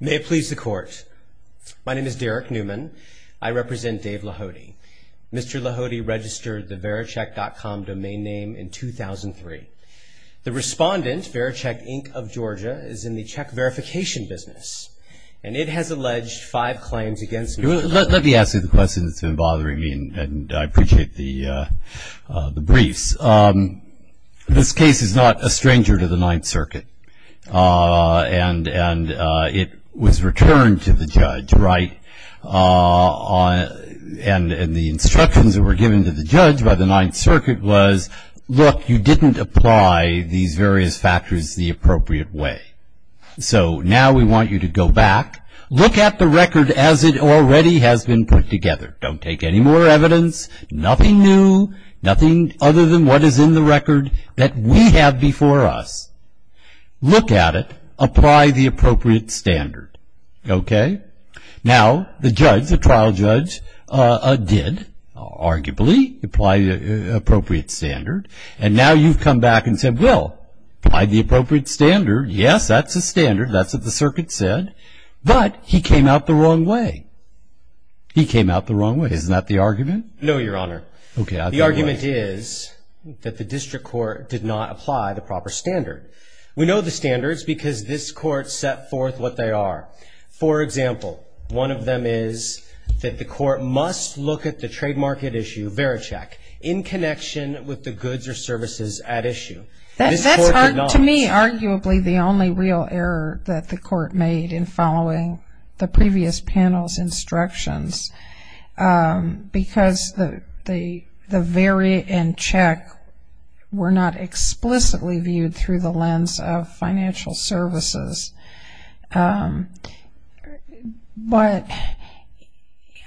May it please the court. My name is Derek Newman. I represent Dave Lahoti. Mr. Lahoti registered the Vericheck.com domain name in 2003. The respondent, Vericheck Inc. of Georgia, is in the check verification business and it has alleged five claims against me. Let me ask you the question that's been bothering me and I appreciate the briefs. This case is not a stranger to the Ninth Circuit and it was returned to the judge, right? And the instructions that were given to the judge by the Ninth Circuit was, look, you didn't apply these various factors the appropriate way. So now we want you to go back, look at the record as it already has been put together. Don't take any more evidence, nothing new, nothing other than what is in the record that we have before us. Look at it, apply the appropriate standard. Okay? Now the judge, the trial judge, did arguably apply the appropriate standard and now you've come back and said, well, by the appropriate standard, yes, that's a standard, that's what the circuit said, but he came out the wrong way. He came out the wrong way. Isn't that the argument? No, Your Honor. The argument is that the district court did not apply the proper standard. We know the standards because this court set forth what they are. For example, one of them is that the court must look at the trade market issue, Vericheck, in connection with the goods or services at issue. That's, to me, arguably the only real error that the court made in following the previous panel's instructions because the Vericheck were not explicitly viewed through the lens of financial services. But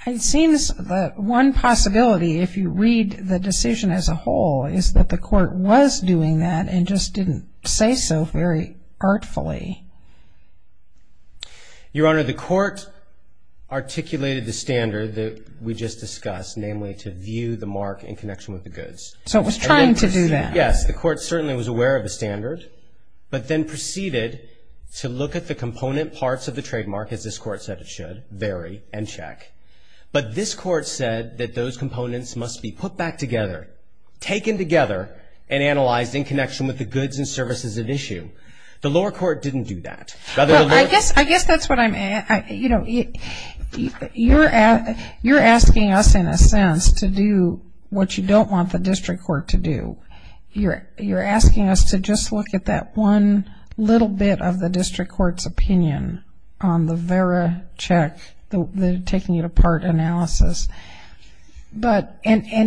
it seems that one possibility, if you read the decision as a whole, is that the court was doing that and just didn't say so very artfully. Your Honor, the court articulated the standard that we just discussed, namely to view the mark in connection with the goods. So it was trying to do that. Yes, the court certainly was aware of the standard, but then proceeded to look at the component parts of the trademark, as this court said it should, Vericheck, but this court said that those components must be put back together, taken together, and analyzed in connection with the goods and services at issue. The lower court didn't do that. I guess that's what I'm asking. You're asking us, in a sense, to do what you don't want the district court to do. You're asking us to just look at that one little bit of the district court's opinion on the Vericheck, taking it apart analysis. And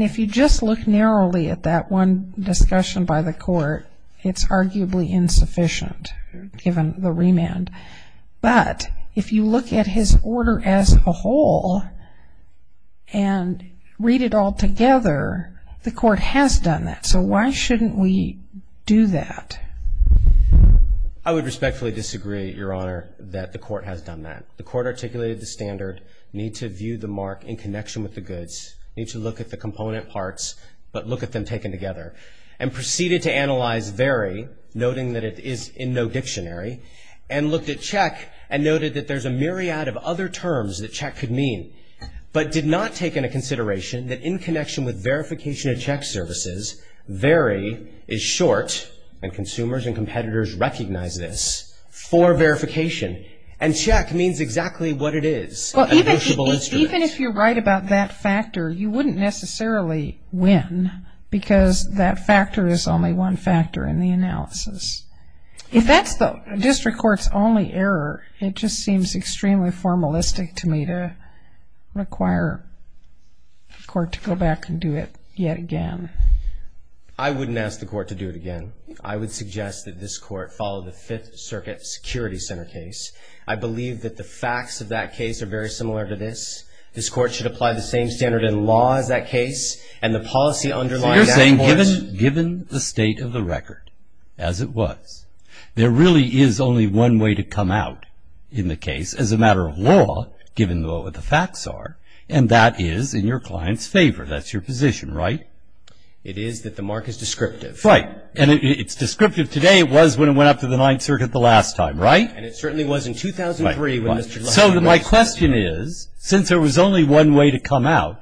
if you just look narrowly at that one discussion by the court, it's arguably insufficient, given the remand. But if you look at his order as a whole and read it all together, the court has done that. So why shouldn't we do that? I would respectfully disagree, Your Honor, that the court has done that. The court articulated the standard, need to view the mark in connection with the goods, need to look at the component parts, but look at them taken together, and proceeded to analyze VERI, noting that it is in no dictionary, and looked at CHECK and noted that there's a myriad of other terms that CHECK could mean, but did not take into consideration that in connection with verification of CHECK services, VERI is short, and consumers and competitors recognize this, for verification. And CHECK means exactly what it is, a notiable instrument. Even if you're right about that factor, you wouldn't necessarily win, because that factor is only one factor in the analysis. If that's the district court's only error, it just seems extremely formalistic to me to require the court to go back and do it yet again. I wouldn't ask the court to do it again. I would suggest that this court follow the Fifth Circuit Security Center case. I believe that the facts of that case are very similar to this. This court should apply the same standard in law as that case, and the policy underlying that court's... It is that the mark is descriptive. Right. And it's descriptive today. It was when it went up to the Ninth Circuit the last time, right? And it certainly was in 2003 when Mr. LaHood... So my question is, since there was only one way to come out,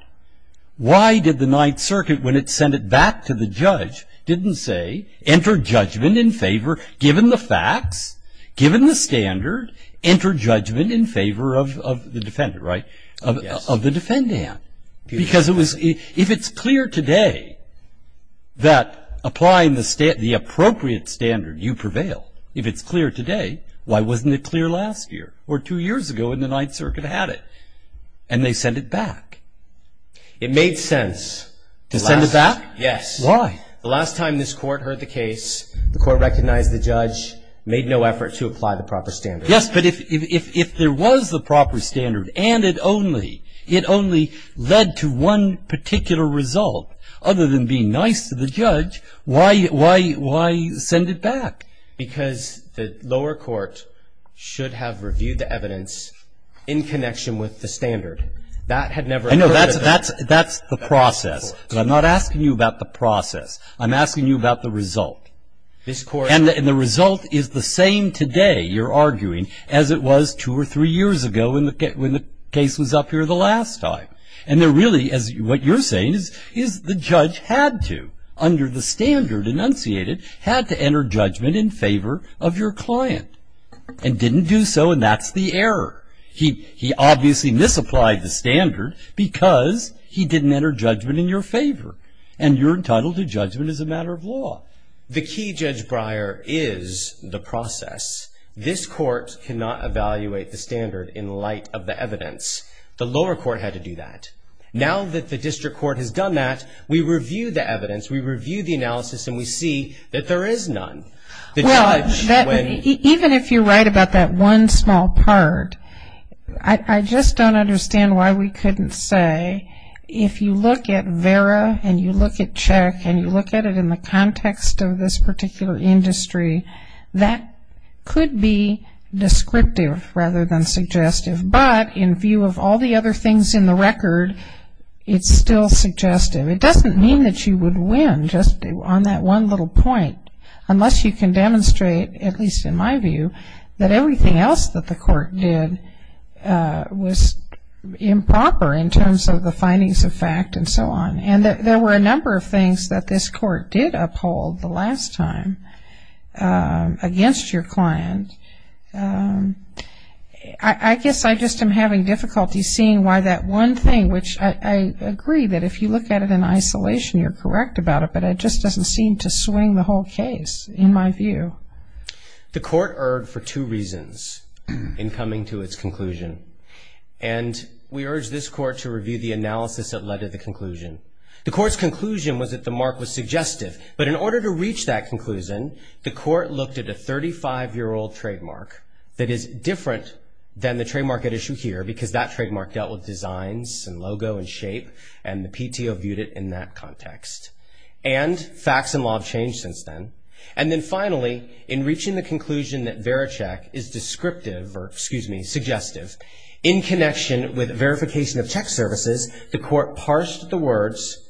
why did the Ninth Circuit, when it sent it back to the judge, didn't say, enter judgment in favor, given the facts, given the standard, enter judgment in favor of the defendant, right? Yes. Of the defendant. Because if it's clear today that applying the appropriate standard, you prevail. If it's clear today, why wasn't it clear last year or two years ago when the Ninth Circuit had it? And they sent it back. It made sense. To send it back? Yes. Why? The last time this court heard the case, the court recognized the judge, made no effort to apply the proper standard. Yes. But if there was the proper standard and it only led to one particular result, other than being nice to the judge, why send it back? Because the lower court should have reviewed the evidence in connection with the standard. That had never occurred to them. I know. That's the process. But I'm not asking you about the process. I'm asking you about the result. This court... And the result is the same today, you're arguing, as it was two or three years ago when the case was up here the last time. And really, what you're saying is the judge had to, under the standard enunciated, had to enter judgment in favor of your client. And didn't do so, and that's the error. He obviously misapplied the standard because he didn't enter judgment in your favor. And you're entitled to judgment as a matter of law. The key, Judge Breyer, is the process. This court cannot evaluate the standard in light of the evidence. The lower court had to do that. Now that the district court has done that, we review the evidence, we review the analysis, and we see that there is none. Well, even if you're right about that one small part, I just don't understand why we couldn't say if you look at VERA and you look at CHECK and you look at it in the context of this particular industry, that could be descriptive rather than suggestive. But in view of all the other things in the record, it's still suggestive. It doesn't mean that you would win just on that one little point, unless you can demonstrate, at least in my view, that everything else that the court did was improper in terms of the findings of fact and so on. And there were a number of things that this court did uphold the last time against your client. I guess I just am having difficulty seeing why that one thing, which I agree that if you look at it in isolation, you're correct about it, but it just doesn't seem to swing the whole case, in my view. The court erred for two reasons in coming to its conclusion, and we urge this court to review the analysis that led to the conclusion. The court's conclusion was that the mark was suggestive, but in order to reach that conclusion, the court looked at a 35-year-old trademark that is different than the trademark at issue here, because that trademark dealt with designs and logo and shape, and the PTO viewed it in that context. And facts and law have changed since then. And then finally, in reaching the conclusion that VeriCheck is descriptive, or, excuse me, suggestive, in connection with verification of check services, the court parsed the words,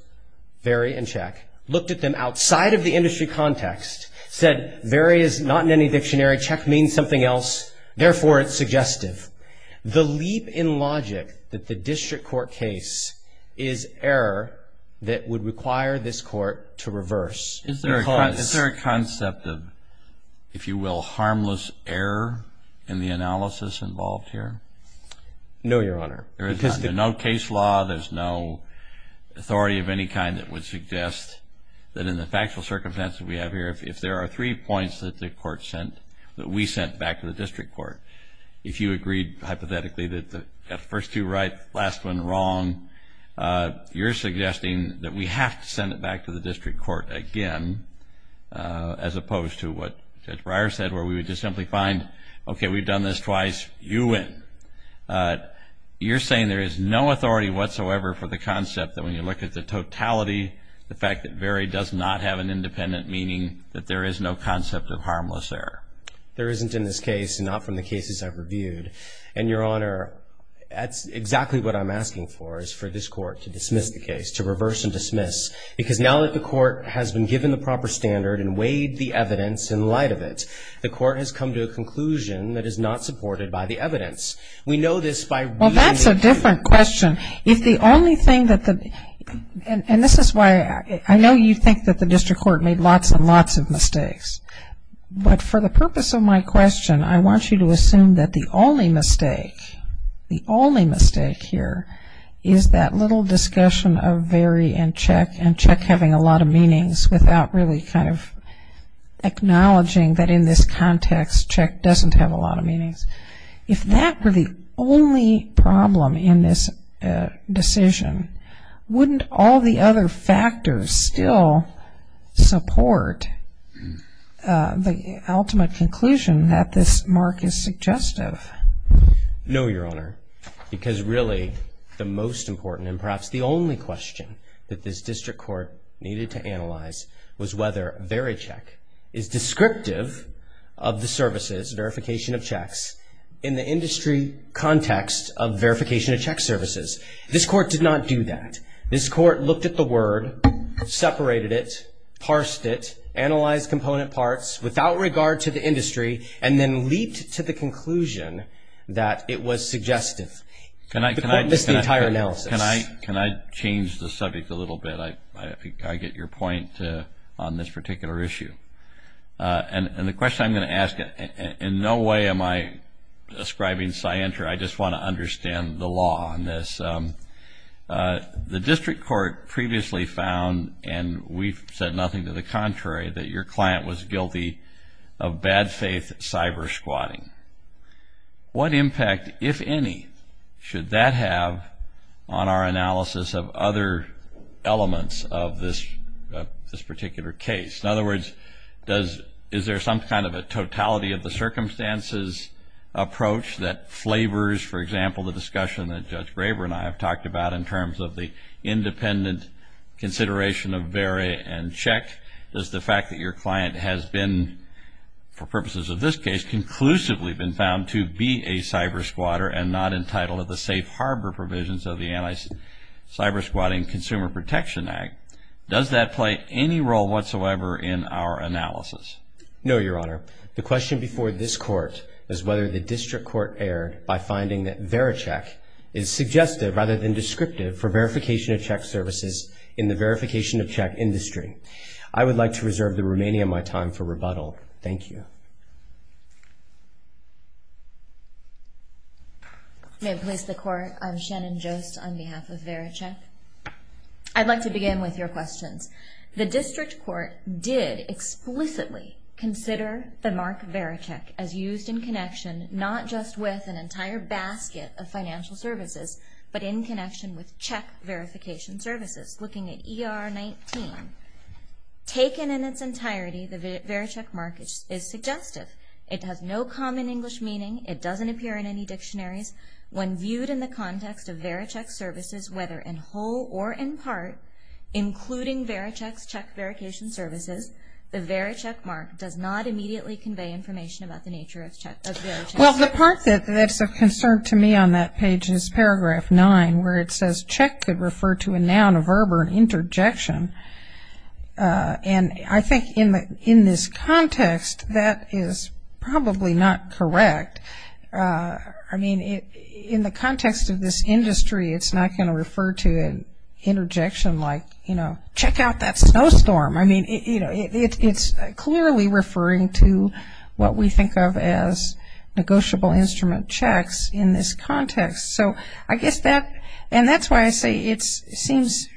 Veri and check, looked at them outside of the industry context, said Veri is not in any dictionary, check means something else, therefore it's suggestive. The leap in logic that the district court case is error that would require this court to reverse. Is there a concept of, if you will, harmless error in the analysis involved here? No, Your Honor. There's no case law, there's no authority of any kind that would suggest that in the factual circumstances we have here, if there are three points that the court sent, that we sent back to the district court, if you agreed hypothetically that the first two right, last one wrong, you're suggesting that we have to send it back to the district court again, as opposed to what Judge Breyer said, where we would just simply find, okay, we've done this twice, you win. You're saying there is no authority whatsoever for the concept that when you look at the totality, the fact that Veri does not have an independent, meaning that there is no concept of harmless error. There isn't in this case, and not from the cases I've reviewed. And, Your Honor, that's exactly what I'm asking for, is for this court to dismiss the case, to reverse and dismiss. Because now that the court has been given the proper standard and weighed the evidence in light of it, the court has come to a conclusion that is not supported by the evidence. We know this by reading the case. Well, that's a different question. If the only thing that the, and this is why I know you think that the district court made lots and lots of mistakes. But for the purpose of my question, I want you to assume that the only mistake, the only mistake here, is that little discussion of Veri and Check, and Check having a lot of meanings without really kind of acknowledging that in this context, Check doesn't have a lot of meanings. If that were the only problem in this decision, wouldn't all the other factors still support the ultimate conclusion that this mark is suggestive? No, Your Honor. Because really, the most important and perhaps the only question that this district court needed to analyze was whether Veri Check is descriptive of the verification of checks in the industry context of verification of check services. This court did not do that. This court looked at the word, separated it, parsed it, analyzed component parts without regard to the industry, and then leaped to the conclusion that it was suggestive. The court missed the entire analysis. Can I change the subject a little bit? I get your point on this particular issue. And the question I'm going to ask, in no way am I ascribing scienter. I just want to understand the law on this. The district court previously found, and we've said nothing to the contrary, that your client was guilty of bad faith cyber squatting. What impact, if any, should that have on our analysis of other elements of this particular case? In other words, is there some kind of a totality of the circumstances approach that flavors, for example, the discussion that Judge Graber and I have talked about in terms of the independent consideration of Veri and Check? Does the fact that your client has been, for purposes of this case, conclusively been found to be a cyber squatter and not entitled to the safe harbor provisions of the Anti-Cyber Squatting Consumer Protection Act, does that play any role whatsoever in our analysis? No, Your Honor. The question before this court is whether the district court erred by finding that Veri Check is suggestive, rather than descriptive, for verification of check services in the verification of check industry. I would like to reserve the remaining of my time for rebuttal. Thank you. May it please the Court, I'm Shannon Jost on behalf of Veri Check. I'd like to begin with your questions. The district court did explicitly consider the mark Veri Check as used in connection, not just with an entire basket of financial services, but in connection with check verification services. Looking at ER 19, taken in its entirety, the Veri Check mark is suggestive. It has no common English meaning. It doesn't appear in any dictionaries. When viewed in the context of Veri Check services, whether in whole or in part, including Veri Check's check verification services, the Veri Check mark does not immediately convey information about the nature of Veri Check. Well, the part that's of concern to me on that page is paragraph 9, where it says check could refer to a noun, a verb, or an interjection. And I think in this context, that is probably not correct. I mean, in the context of this industry, it's not going to refer to an interjection like, you know, check out that snowstorm. I mean, it's clearly referring to what we think of as negotiable instrument checks in this context. So I guess that's why I say it seems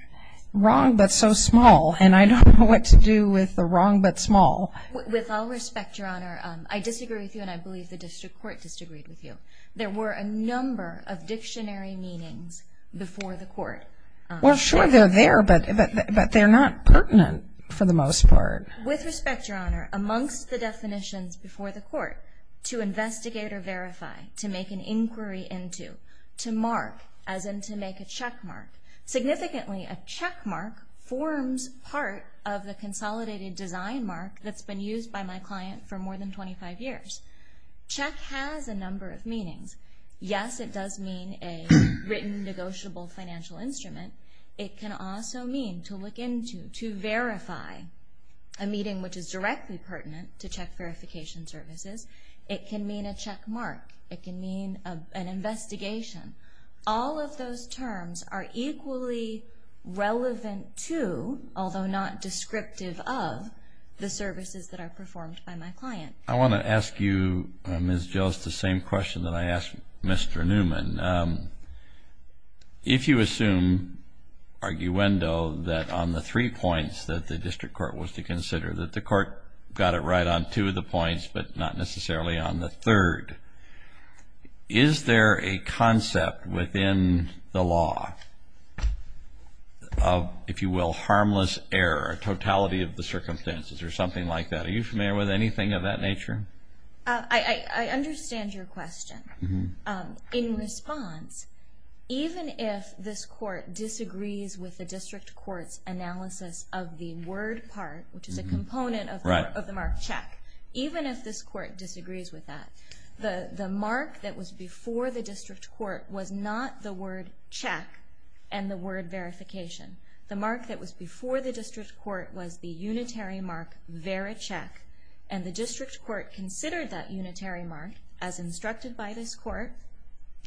wrong but so small, and I don't know what to do with the wrong but small. With all respect, Your Honor, I disagree with you, and I believe the district court disagreed with you. There were a number of dictionary meanings before the court. Well, sure, they're there, but they're not pertinent for the most part. With respect, Your Honor, amongst the definitions before the court, to investigate or verify, to make an inquiry into, to mark, as in to make a check mark. Significantly, a check mark forms part of the consolidated design mark that's been used by my client for more than 25 years. Check has a number of meanings. Yes, it does mean a written negotiable financial instrument. It can also mean to look into, to verify a meeting which is directly pertinent to check verification services. It can mean a check mark. It can mean an investigation. All of those terms are equally relevant to, although not descriptive of, the services that are performed by my client. I want to ask you, Ms. Gilles, the same question that I asked Mr. Newman. If you assume arguendo that on the three points that the district court was to consider, that the court got it right on two of the points but not necessarily on the third, is there a concept within the law of, if you will, harmless error, a totality of the circumstances or something like that? Are you familiar with anything of that nature? I understand your question. In response, even if this court disagrees with the district court's analysis of the word part, which is a component of the mark check, even if this court disagrees with that, the mark that was before the district court was not the word check and the word verification. The mark that was before the district court was the unitary mark veri-check, and the district court considered that unitary mark, as instructed by this court,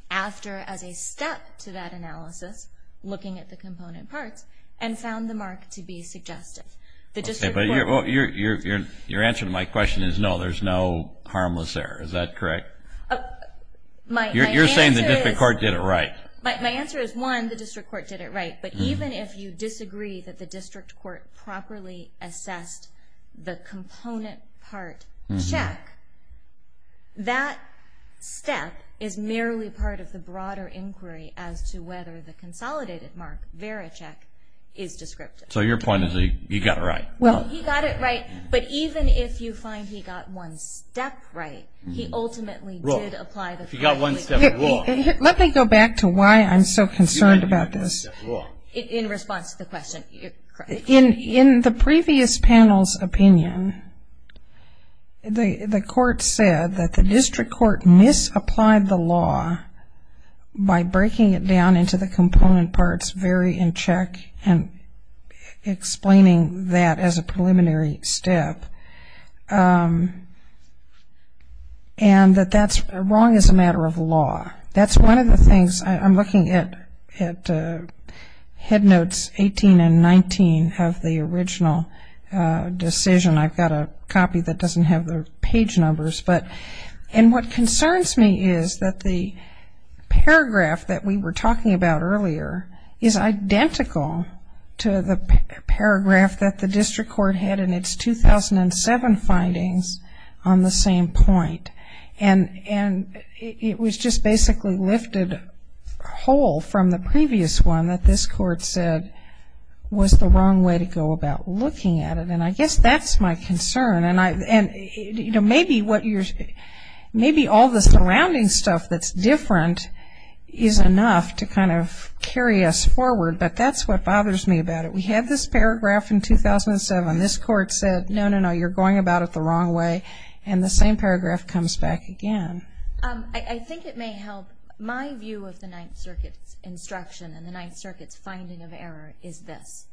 after as a step to that analysis, looking at the component parts, and found the mark to be suggestive. Your answer to my question is no, there's no harmless error. Is that correct? You're saying the district court did it right. My answer is, one, the district court did it right, but even if you disagree that the district court properly assessed the component part check, that step is merely part of the broader inquiry as to whether the consolidated mark veri-check is descriptive. So your point is that he got it right. He got it right, but even if you find he got one step right, he ultimately did apply the component. He got one step wrong. Let me go back to why I'm so concerned about this. In response to the question. In the previous panel's opinion, the court said that the district court misapplied the law by breaking it down into the component parts, very in check, and explaining that as a preliminary step, and that that's wrong as a matter of law. That's one of the things I'm looking at. Head notes 18 and 19 have the original decision. I've got a copy that doesn't have the page numbers. And what concerns me is that the paragraph that we were talking about earlier is identical to the paragraph that the district court had in its 2007 findings on the same point. And it was just basically lifted whole from the previous one that this court said was the wrong way to go about looking at it. And I guess that's my concern. And, you know, maybe all the surrounding stuff that's different is enough to kind of carry us forward. But that's what bothers me about it. We had this paragraph in 2007. This court said, no, no, no, you're going about it the wrong way. And the same paragraph comes back again. I think it may help. My view of the Ninth Circuit's instruction and the Ninth Circuit's finding of error is this.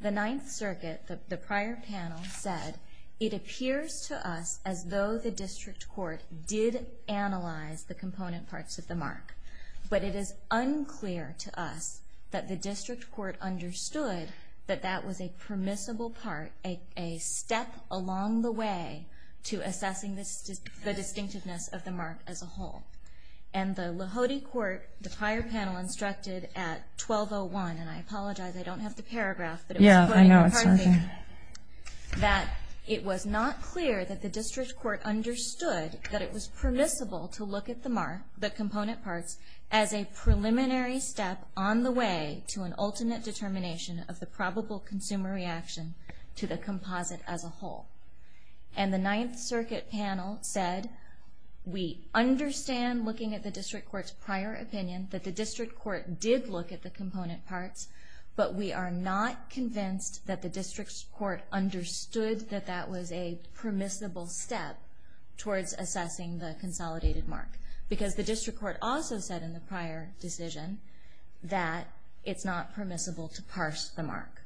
The Ninth Circuit, the prior panel, said it appears to us as though the district court did analyze the component parts of the mark. But it is unclear to us that the district court understood that that was a permissible part, a step along the way to assessing the distinctiveness of the mark as a whole. And the Lahode court, the prior panel instructed at 12.01, and I apologize, I don't have the paragraph. Yeah, I know it's not there. That it was not clear that the district court understood that it was permissible to look at the mark, the component parts, as a preliminary step on the way to an alternate determination of the probable consumer reaction to the composite as a whole. And the Ninth Circuit panel said, we understand looking at the district court's prior opinion, that the district court did look at the component parts, but we are not convinced that the district court understood that that was a permissible step towards assessing the consolidated mark. Because the district court also said in the prior decision that it's not permissible to parse the mark.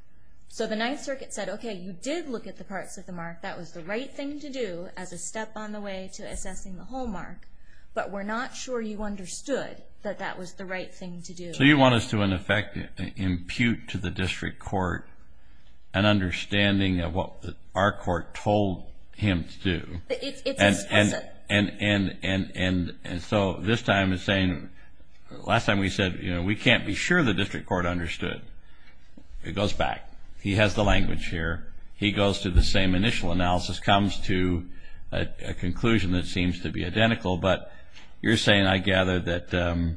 So the Ninth Circuit said, okay, you did look at the parts of the mark, that was the right thing to do as a step on the way to assessing the whole mark, but we're not sure you understood that that was the right thing to do. So you want us to, in effect, impute to the district court an understanding of what our court told him to do. It's explicit. And so this time it's saying, last time we said, you know, we can't be sure the district court understood. It goes back. He has the language here. He goes to the same initial analysis, comes to a conclusion that seems to be identical. But you're saying, I gather, that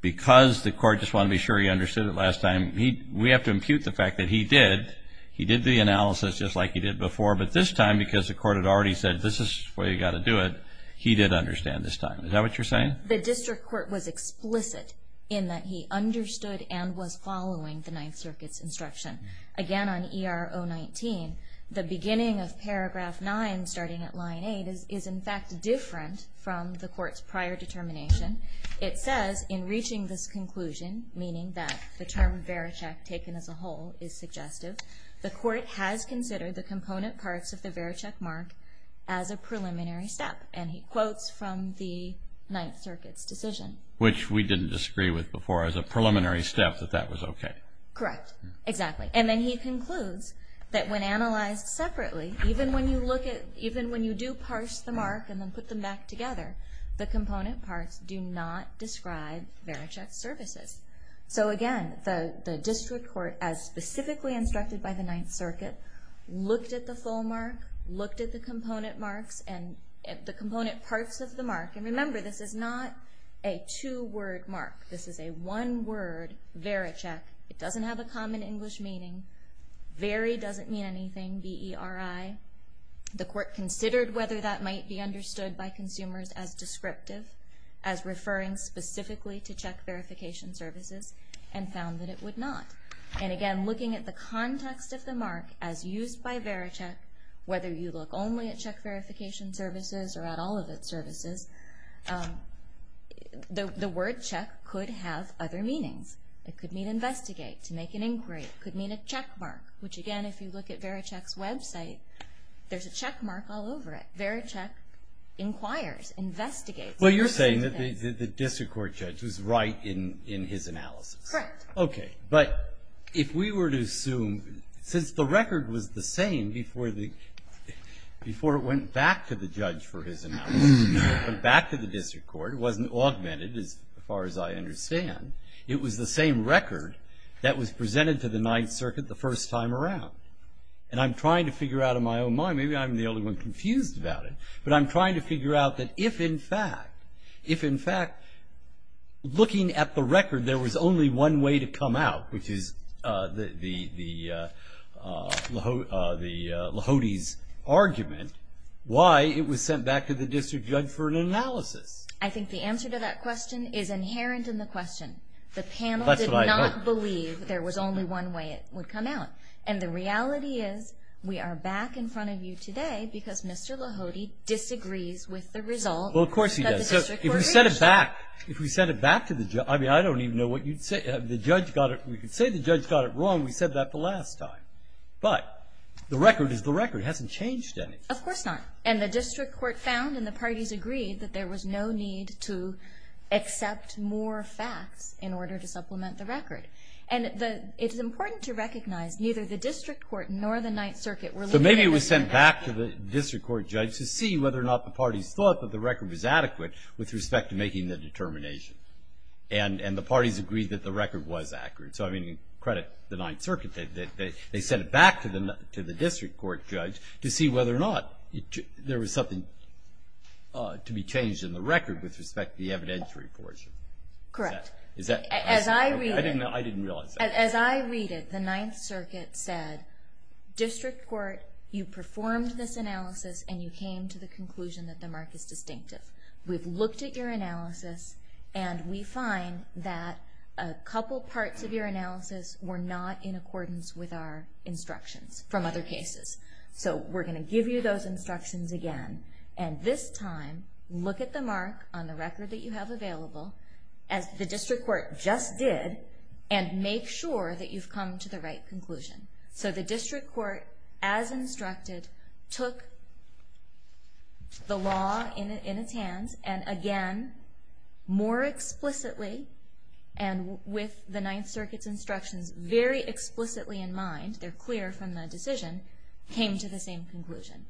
because the court just wanted to be sure he understood it last time, we have to impute the fact that he did. He did the analysis just like he did before, but this time, because the court had already said, this is the way you've got to do it, he did understand this time. Is that what you're saying? The district court was explicit in that he understood and was following the Ninth Circuit's instruction. Again, on ER 019, the beginning of paragraph 9, starting at line 8, is, in fact, different from the court's prior determination. It says, in reaching this conclusion, meaning that the term Vericheck taken as a whole is suggestive, the court has considered the component parts of the Vericheck mark as a preliminary step. And he quotes from the Ninth Circuit's decision. Which we didn't disagree with before. As a preliminary step, that that was okay. Correct. Exactly. And then he concludes that when analyzed separately, even when you do parse the mark and then put them back together, the component parts do not describe Vericheck's services. So again, the district court, as specifically instructed by the Ninth Circuit, looked at the full mark, looked at the component parts of the mark. And remember, this is not a two-word mark. This is a one-word Vericheck. It doesn't have a common English meaning. Very doesn't mean anything, B-E-R-I. The court considered whether that might be understood by consumers as descriptive, as referring specifically to check verification services, and found that it would not. And again, looking at the context of the mark as used by Vericheck, whether you look only at check verification services or at all of its services, the word check could have other meanings. It could mean investigate, to make an inquiry. It could mean a checkmark, which again, if you look at Vericheck's website, there's a checkmark all over it. Vericheck inquires, investigates. Well, you're saying that the district court judge was right in his analysis. Correct. Okay. But if we were to assume, since the record was the same before it went back to the judge for his analysis, it went back to the district court. It wasn't augmented, as far as I understand. It was the same record that was presented to the Ninth Circuit the first time around. And I'm trying to figure out in my own mind, maybe I'm the only one confused about it, but I'm trying to figure out that if, in fact, if, in fact, looking at the record, there was only one way to come out, which is the Lahode's argument, why it was sent back to the district judge for an analysis. I think the answer to that question is inherent in the question. The panel did not believe there was only one way it would come out. And the reality is we are back in front of you today because Mr. Lahode disagrees with the result. Well, of course he does. If we sent it back, if we sent it back to the judge, I mean, I don't even know what you'd say. The judge got it. We could say the judge got it wrong. We said that the last time. But the record is the record. It hasn't changed anything. Of course not. And the district court found and the parties agreed that there was no need to accept more facts in order to supplement the record. And it's important to recognize neither the district court nor the Ninth Circuit were looking at it. So maybe it was sent back to the district court judge to see whether or not the parties thought that the record was adequate with respect to making the determination. And the parties agreed that the record was accurate. So, I mean, credit the Ninth Circuit. They sent it back to the district court judge to see whether or not there was something to be changed in the record with respect to the evidentiary portion. Correct. I didn't realize that. As I read it, the Ninth Circuit said, district court, you performed this analysis and you came to the conclusion that the mark is distinctive. We've looked at your analysis and we find that a couple parts of your analysis were not in accordance with our instructions from other cases. So we're going to give you those instructions again. And this time, look at the mark on the record that you have available, as the district court just did, and make sure that you've come to the right conclusion. So the district court, as instructed, took the law in its hands and, again, more explicitly, and with the Ninth Circuit's instructions very explicitly in mind, they're clear from the decision, came to the same conclusion.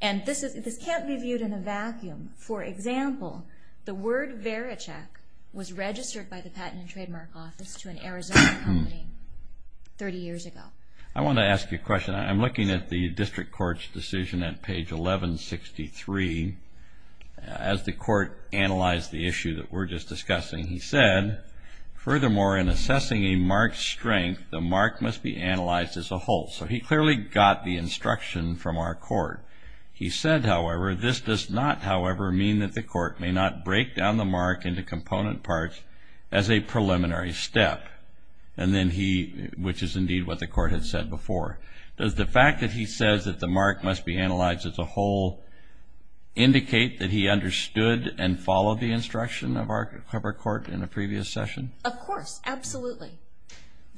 And this can't be viewed in a vacuum. For example, the word vericheck was registered by the Patent and Trademark Office to an Arizona company 30 years ago. I want to ask you a question. I'm looking at the district court's decision at page 1163. As the court analyzed the issue that we're just discussing, he said, furthermore, in assessing a mark's strength, the mark must be analyzed as a whole. So he clearly got the instruction from our court. He said, however, this does not, however, may not break down the mark into component parts as a preliminary step, which is indeed what the court had said before. Does the fact that he says that the mark must be analyzed as a whole indicate that he understood and followed the instruction of our court in a previous session? Of course. Absolutely.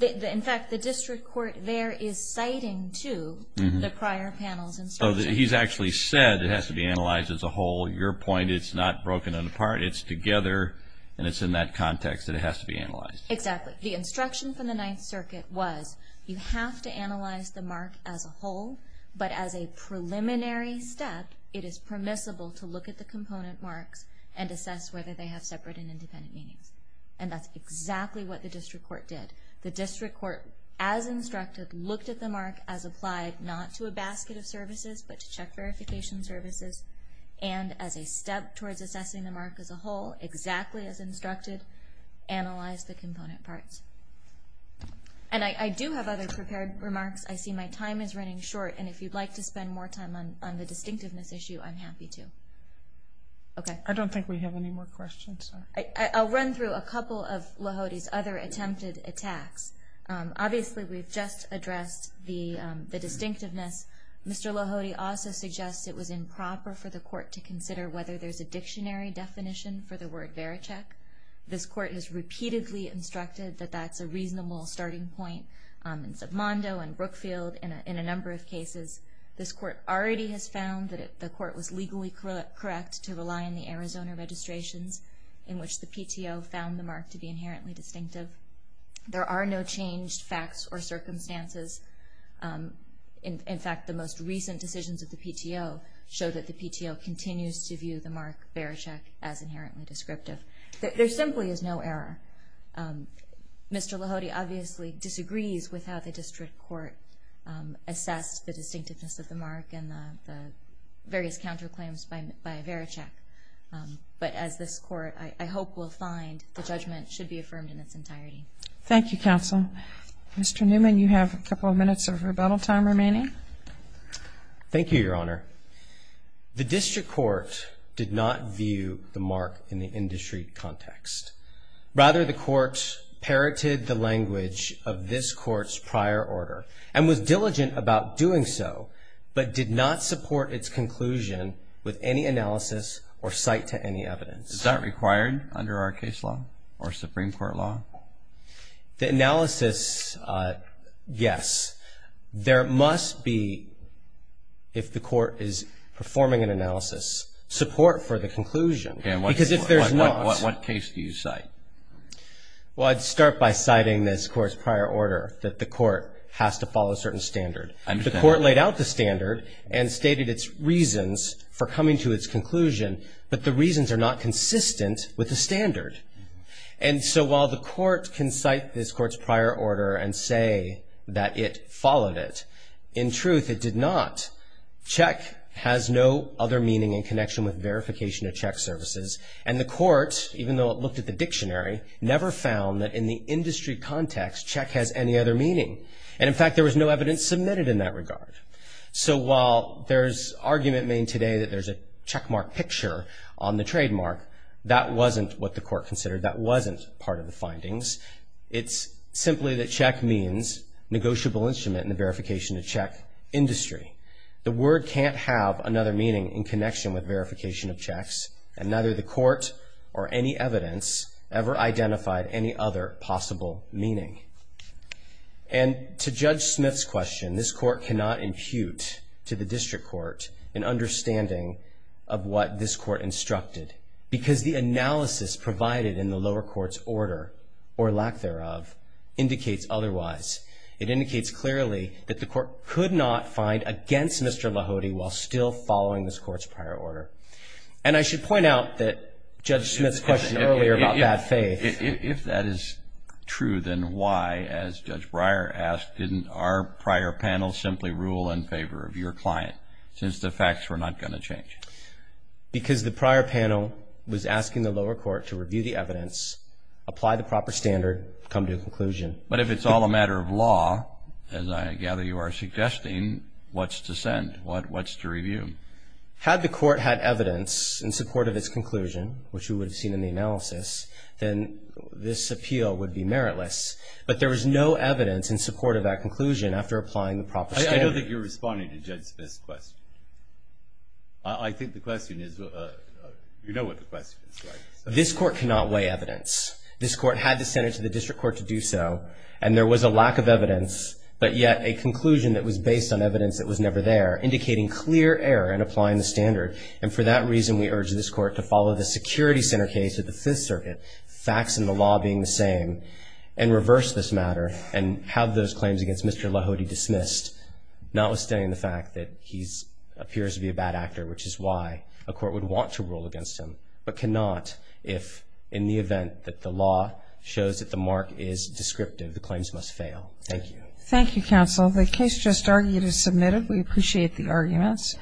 In fact, the district court there is citing to the prior panel's instruction. He's actually said it has to be analyzed as a whole. Your point, it's not broken it apart. It's together, and it's in that context that it has to be analyzed. Exactly. The instruction from the Ninth Circuit was you have to analyze the mark as a whole, but as a preliminary step, it is permissible to look at the component marks and assess whether they have separate and independent meanings. And that's exactly what the district court did. The district court, as instructed, looked at the mark as applied not to a basket of services, but to check verification services, and as a step towards assessing the mark as a whole, exactly as instructed, analyzed the component parts. And I do have other prepared remarks. I see my time is running short, and if you'd like to spend more time on the distinctiveness issue, I'm happy to. Okay. I don't think we have any more questions. I'll run through a couple of Lohody's other attempted attacks. Obviously, we've just addressed the distinctiveness. Mr. Lohody also suggests it was improper for the court to consider whether there's a dictionary definition for the word vericheck. This court has repeatedly instructed that that's a reasonable starting point. In Submando and Brookfield, in a number of cases, this court already has found that the court was legally correct to rely on the Arizona registrations, in which the PTO found the mark to be inherently distinctive. There are no changed facts or circumstances. In fact, the most recent decisions of the PTO show that the PTO continues to view the mark vericheck as inherently descriptive. There simply is no error. Mr. Lohody obviously disagrees with how the district court assessed the distinctiveness of the mark and the various counterclaims by vericheck. But as this court, I hope we'll find the judgment should be affirmed in its entirety. Thank you, counsel. Mr. Newman, you have a couple of minutes of rebuttal time remaining. Thank you, Your Honor. The district court did not view the mark in the industry context. Rather, the court parroted the language of this court's prior order and was diligent about doing so but did not support its conclusion with any analysis or cite to any evidence. Is that required under our case law or Supreme Court law? The analysis, yes. There must be, if the court is performing an analysis, support for the conclusion. What case do you cite? Well, I'd start by citing this court's prior order that the court has to follow a certain standard. The court laid out the standard and stated its reasons for coming to its conclusion, but the reasons are not consistent with the standard. And so while the court can cite this court's prior order and say that it followed it, in truth it did not. Check has no other meaning in connection with verification of check services, and the court, even though it looked at the dictionary, never found that in the industry context check has any other meaning. And, in fact, there was no evidence submitted in that regard. So while there's argument made today that there's a checkmark picture on the trademark, that wasn't what the court considered. That wasn't part of the findings. It's simply that check means negotiable instrument in the verification of check industry. The word can't have another meaning in connection with verification of checks, and neither the court or any evidence ever identified any other possible meaning. And to Judge Smith's question, this court cannot impute to the district court an understanding of what this court instructed, because the analysis provided in the lower court's order, or lack thereof, indicates otherwise. It indicates clearly that the court could not find against Mr. Lahody while still following this court's prior order. And I should point out that Judge Smith's question earlier about bad faith. If that is true, then why, as Judge Breyer asked, didn't our prior panel simply rule in favor of your client, since the facts were not going to change? Because the prior panel was asking the lower court to review the evidence, apply the proper standard, come to a conclusion. But if it's all a matter of law, as I gather you are suggesting, what's to send? What's to review? Had the court had evidence in support of its conclusion, which we would have seen in the analysis, then this appeal would be meritless. But there was no evidence in support of that conclusion after applying the proper standard. I don't think you're responding to Judge Smith's question. I think the question is, you know what the question is, right? This court cannot weigh evidence. This court had to send it to the district court to do so, and there was a lack of evidence, but yet a conclusion that was based on evidence that was never there, indicating clear error in applying the standard. And for that reason, we urge this court to follow the security center case of the Fifth Circuit, facts and the law being the same, and reverse this matter, and have those claims against Mr. Lahody dismissed, notwithstanding the fact that he appears to be a bad actor, which is why a court would want to rule against him, but cannot if, in the event that the law shows that the mark is descriptive, the claims must fail. Thank you. Thank you, counsel. The case just argued is submitted. We appreciate the arguments.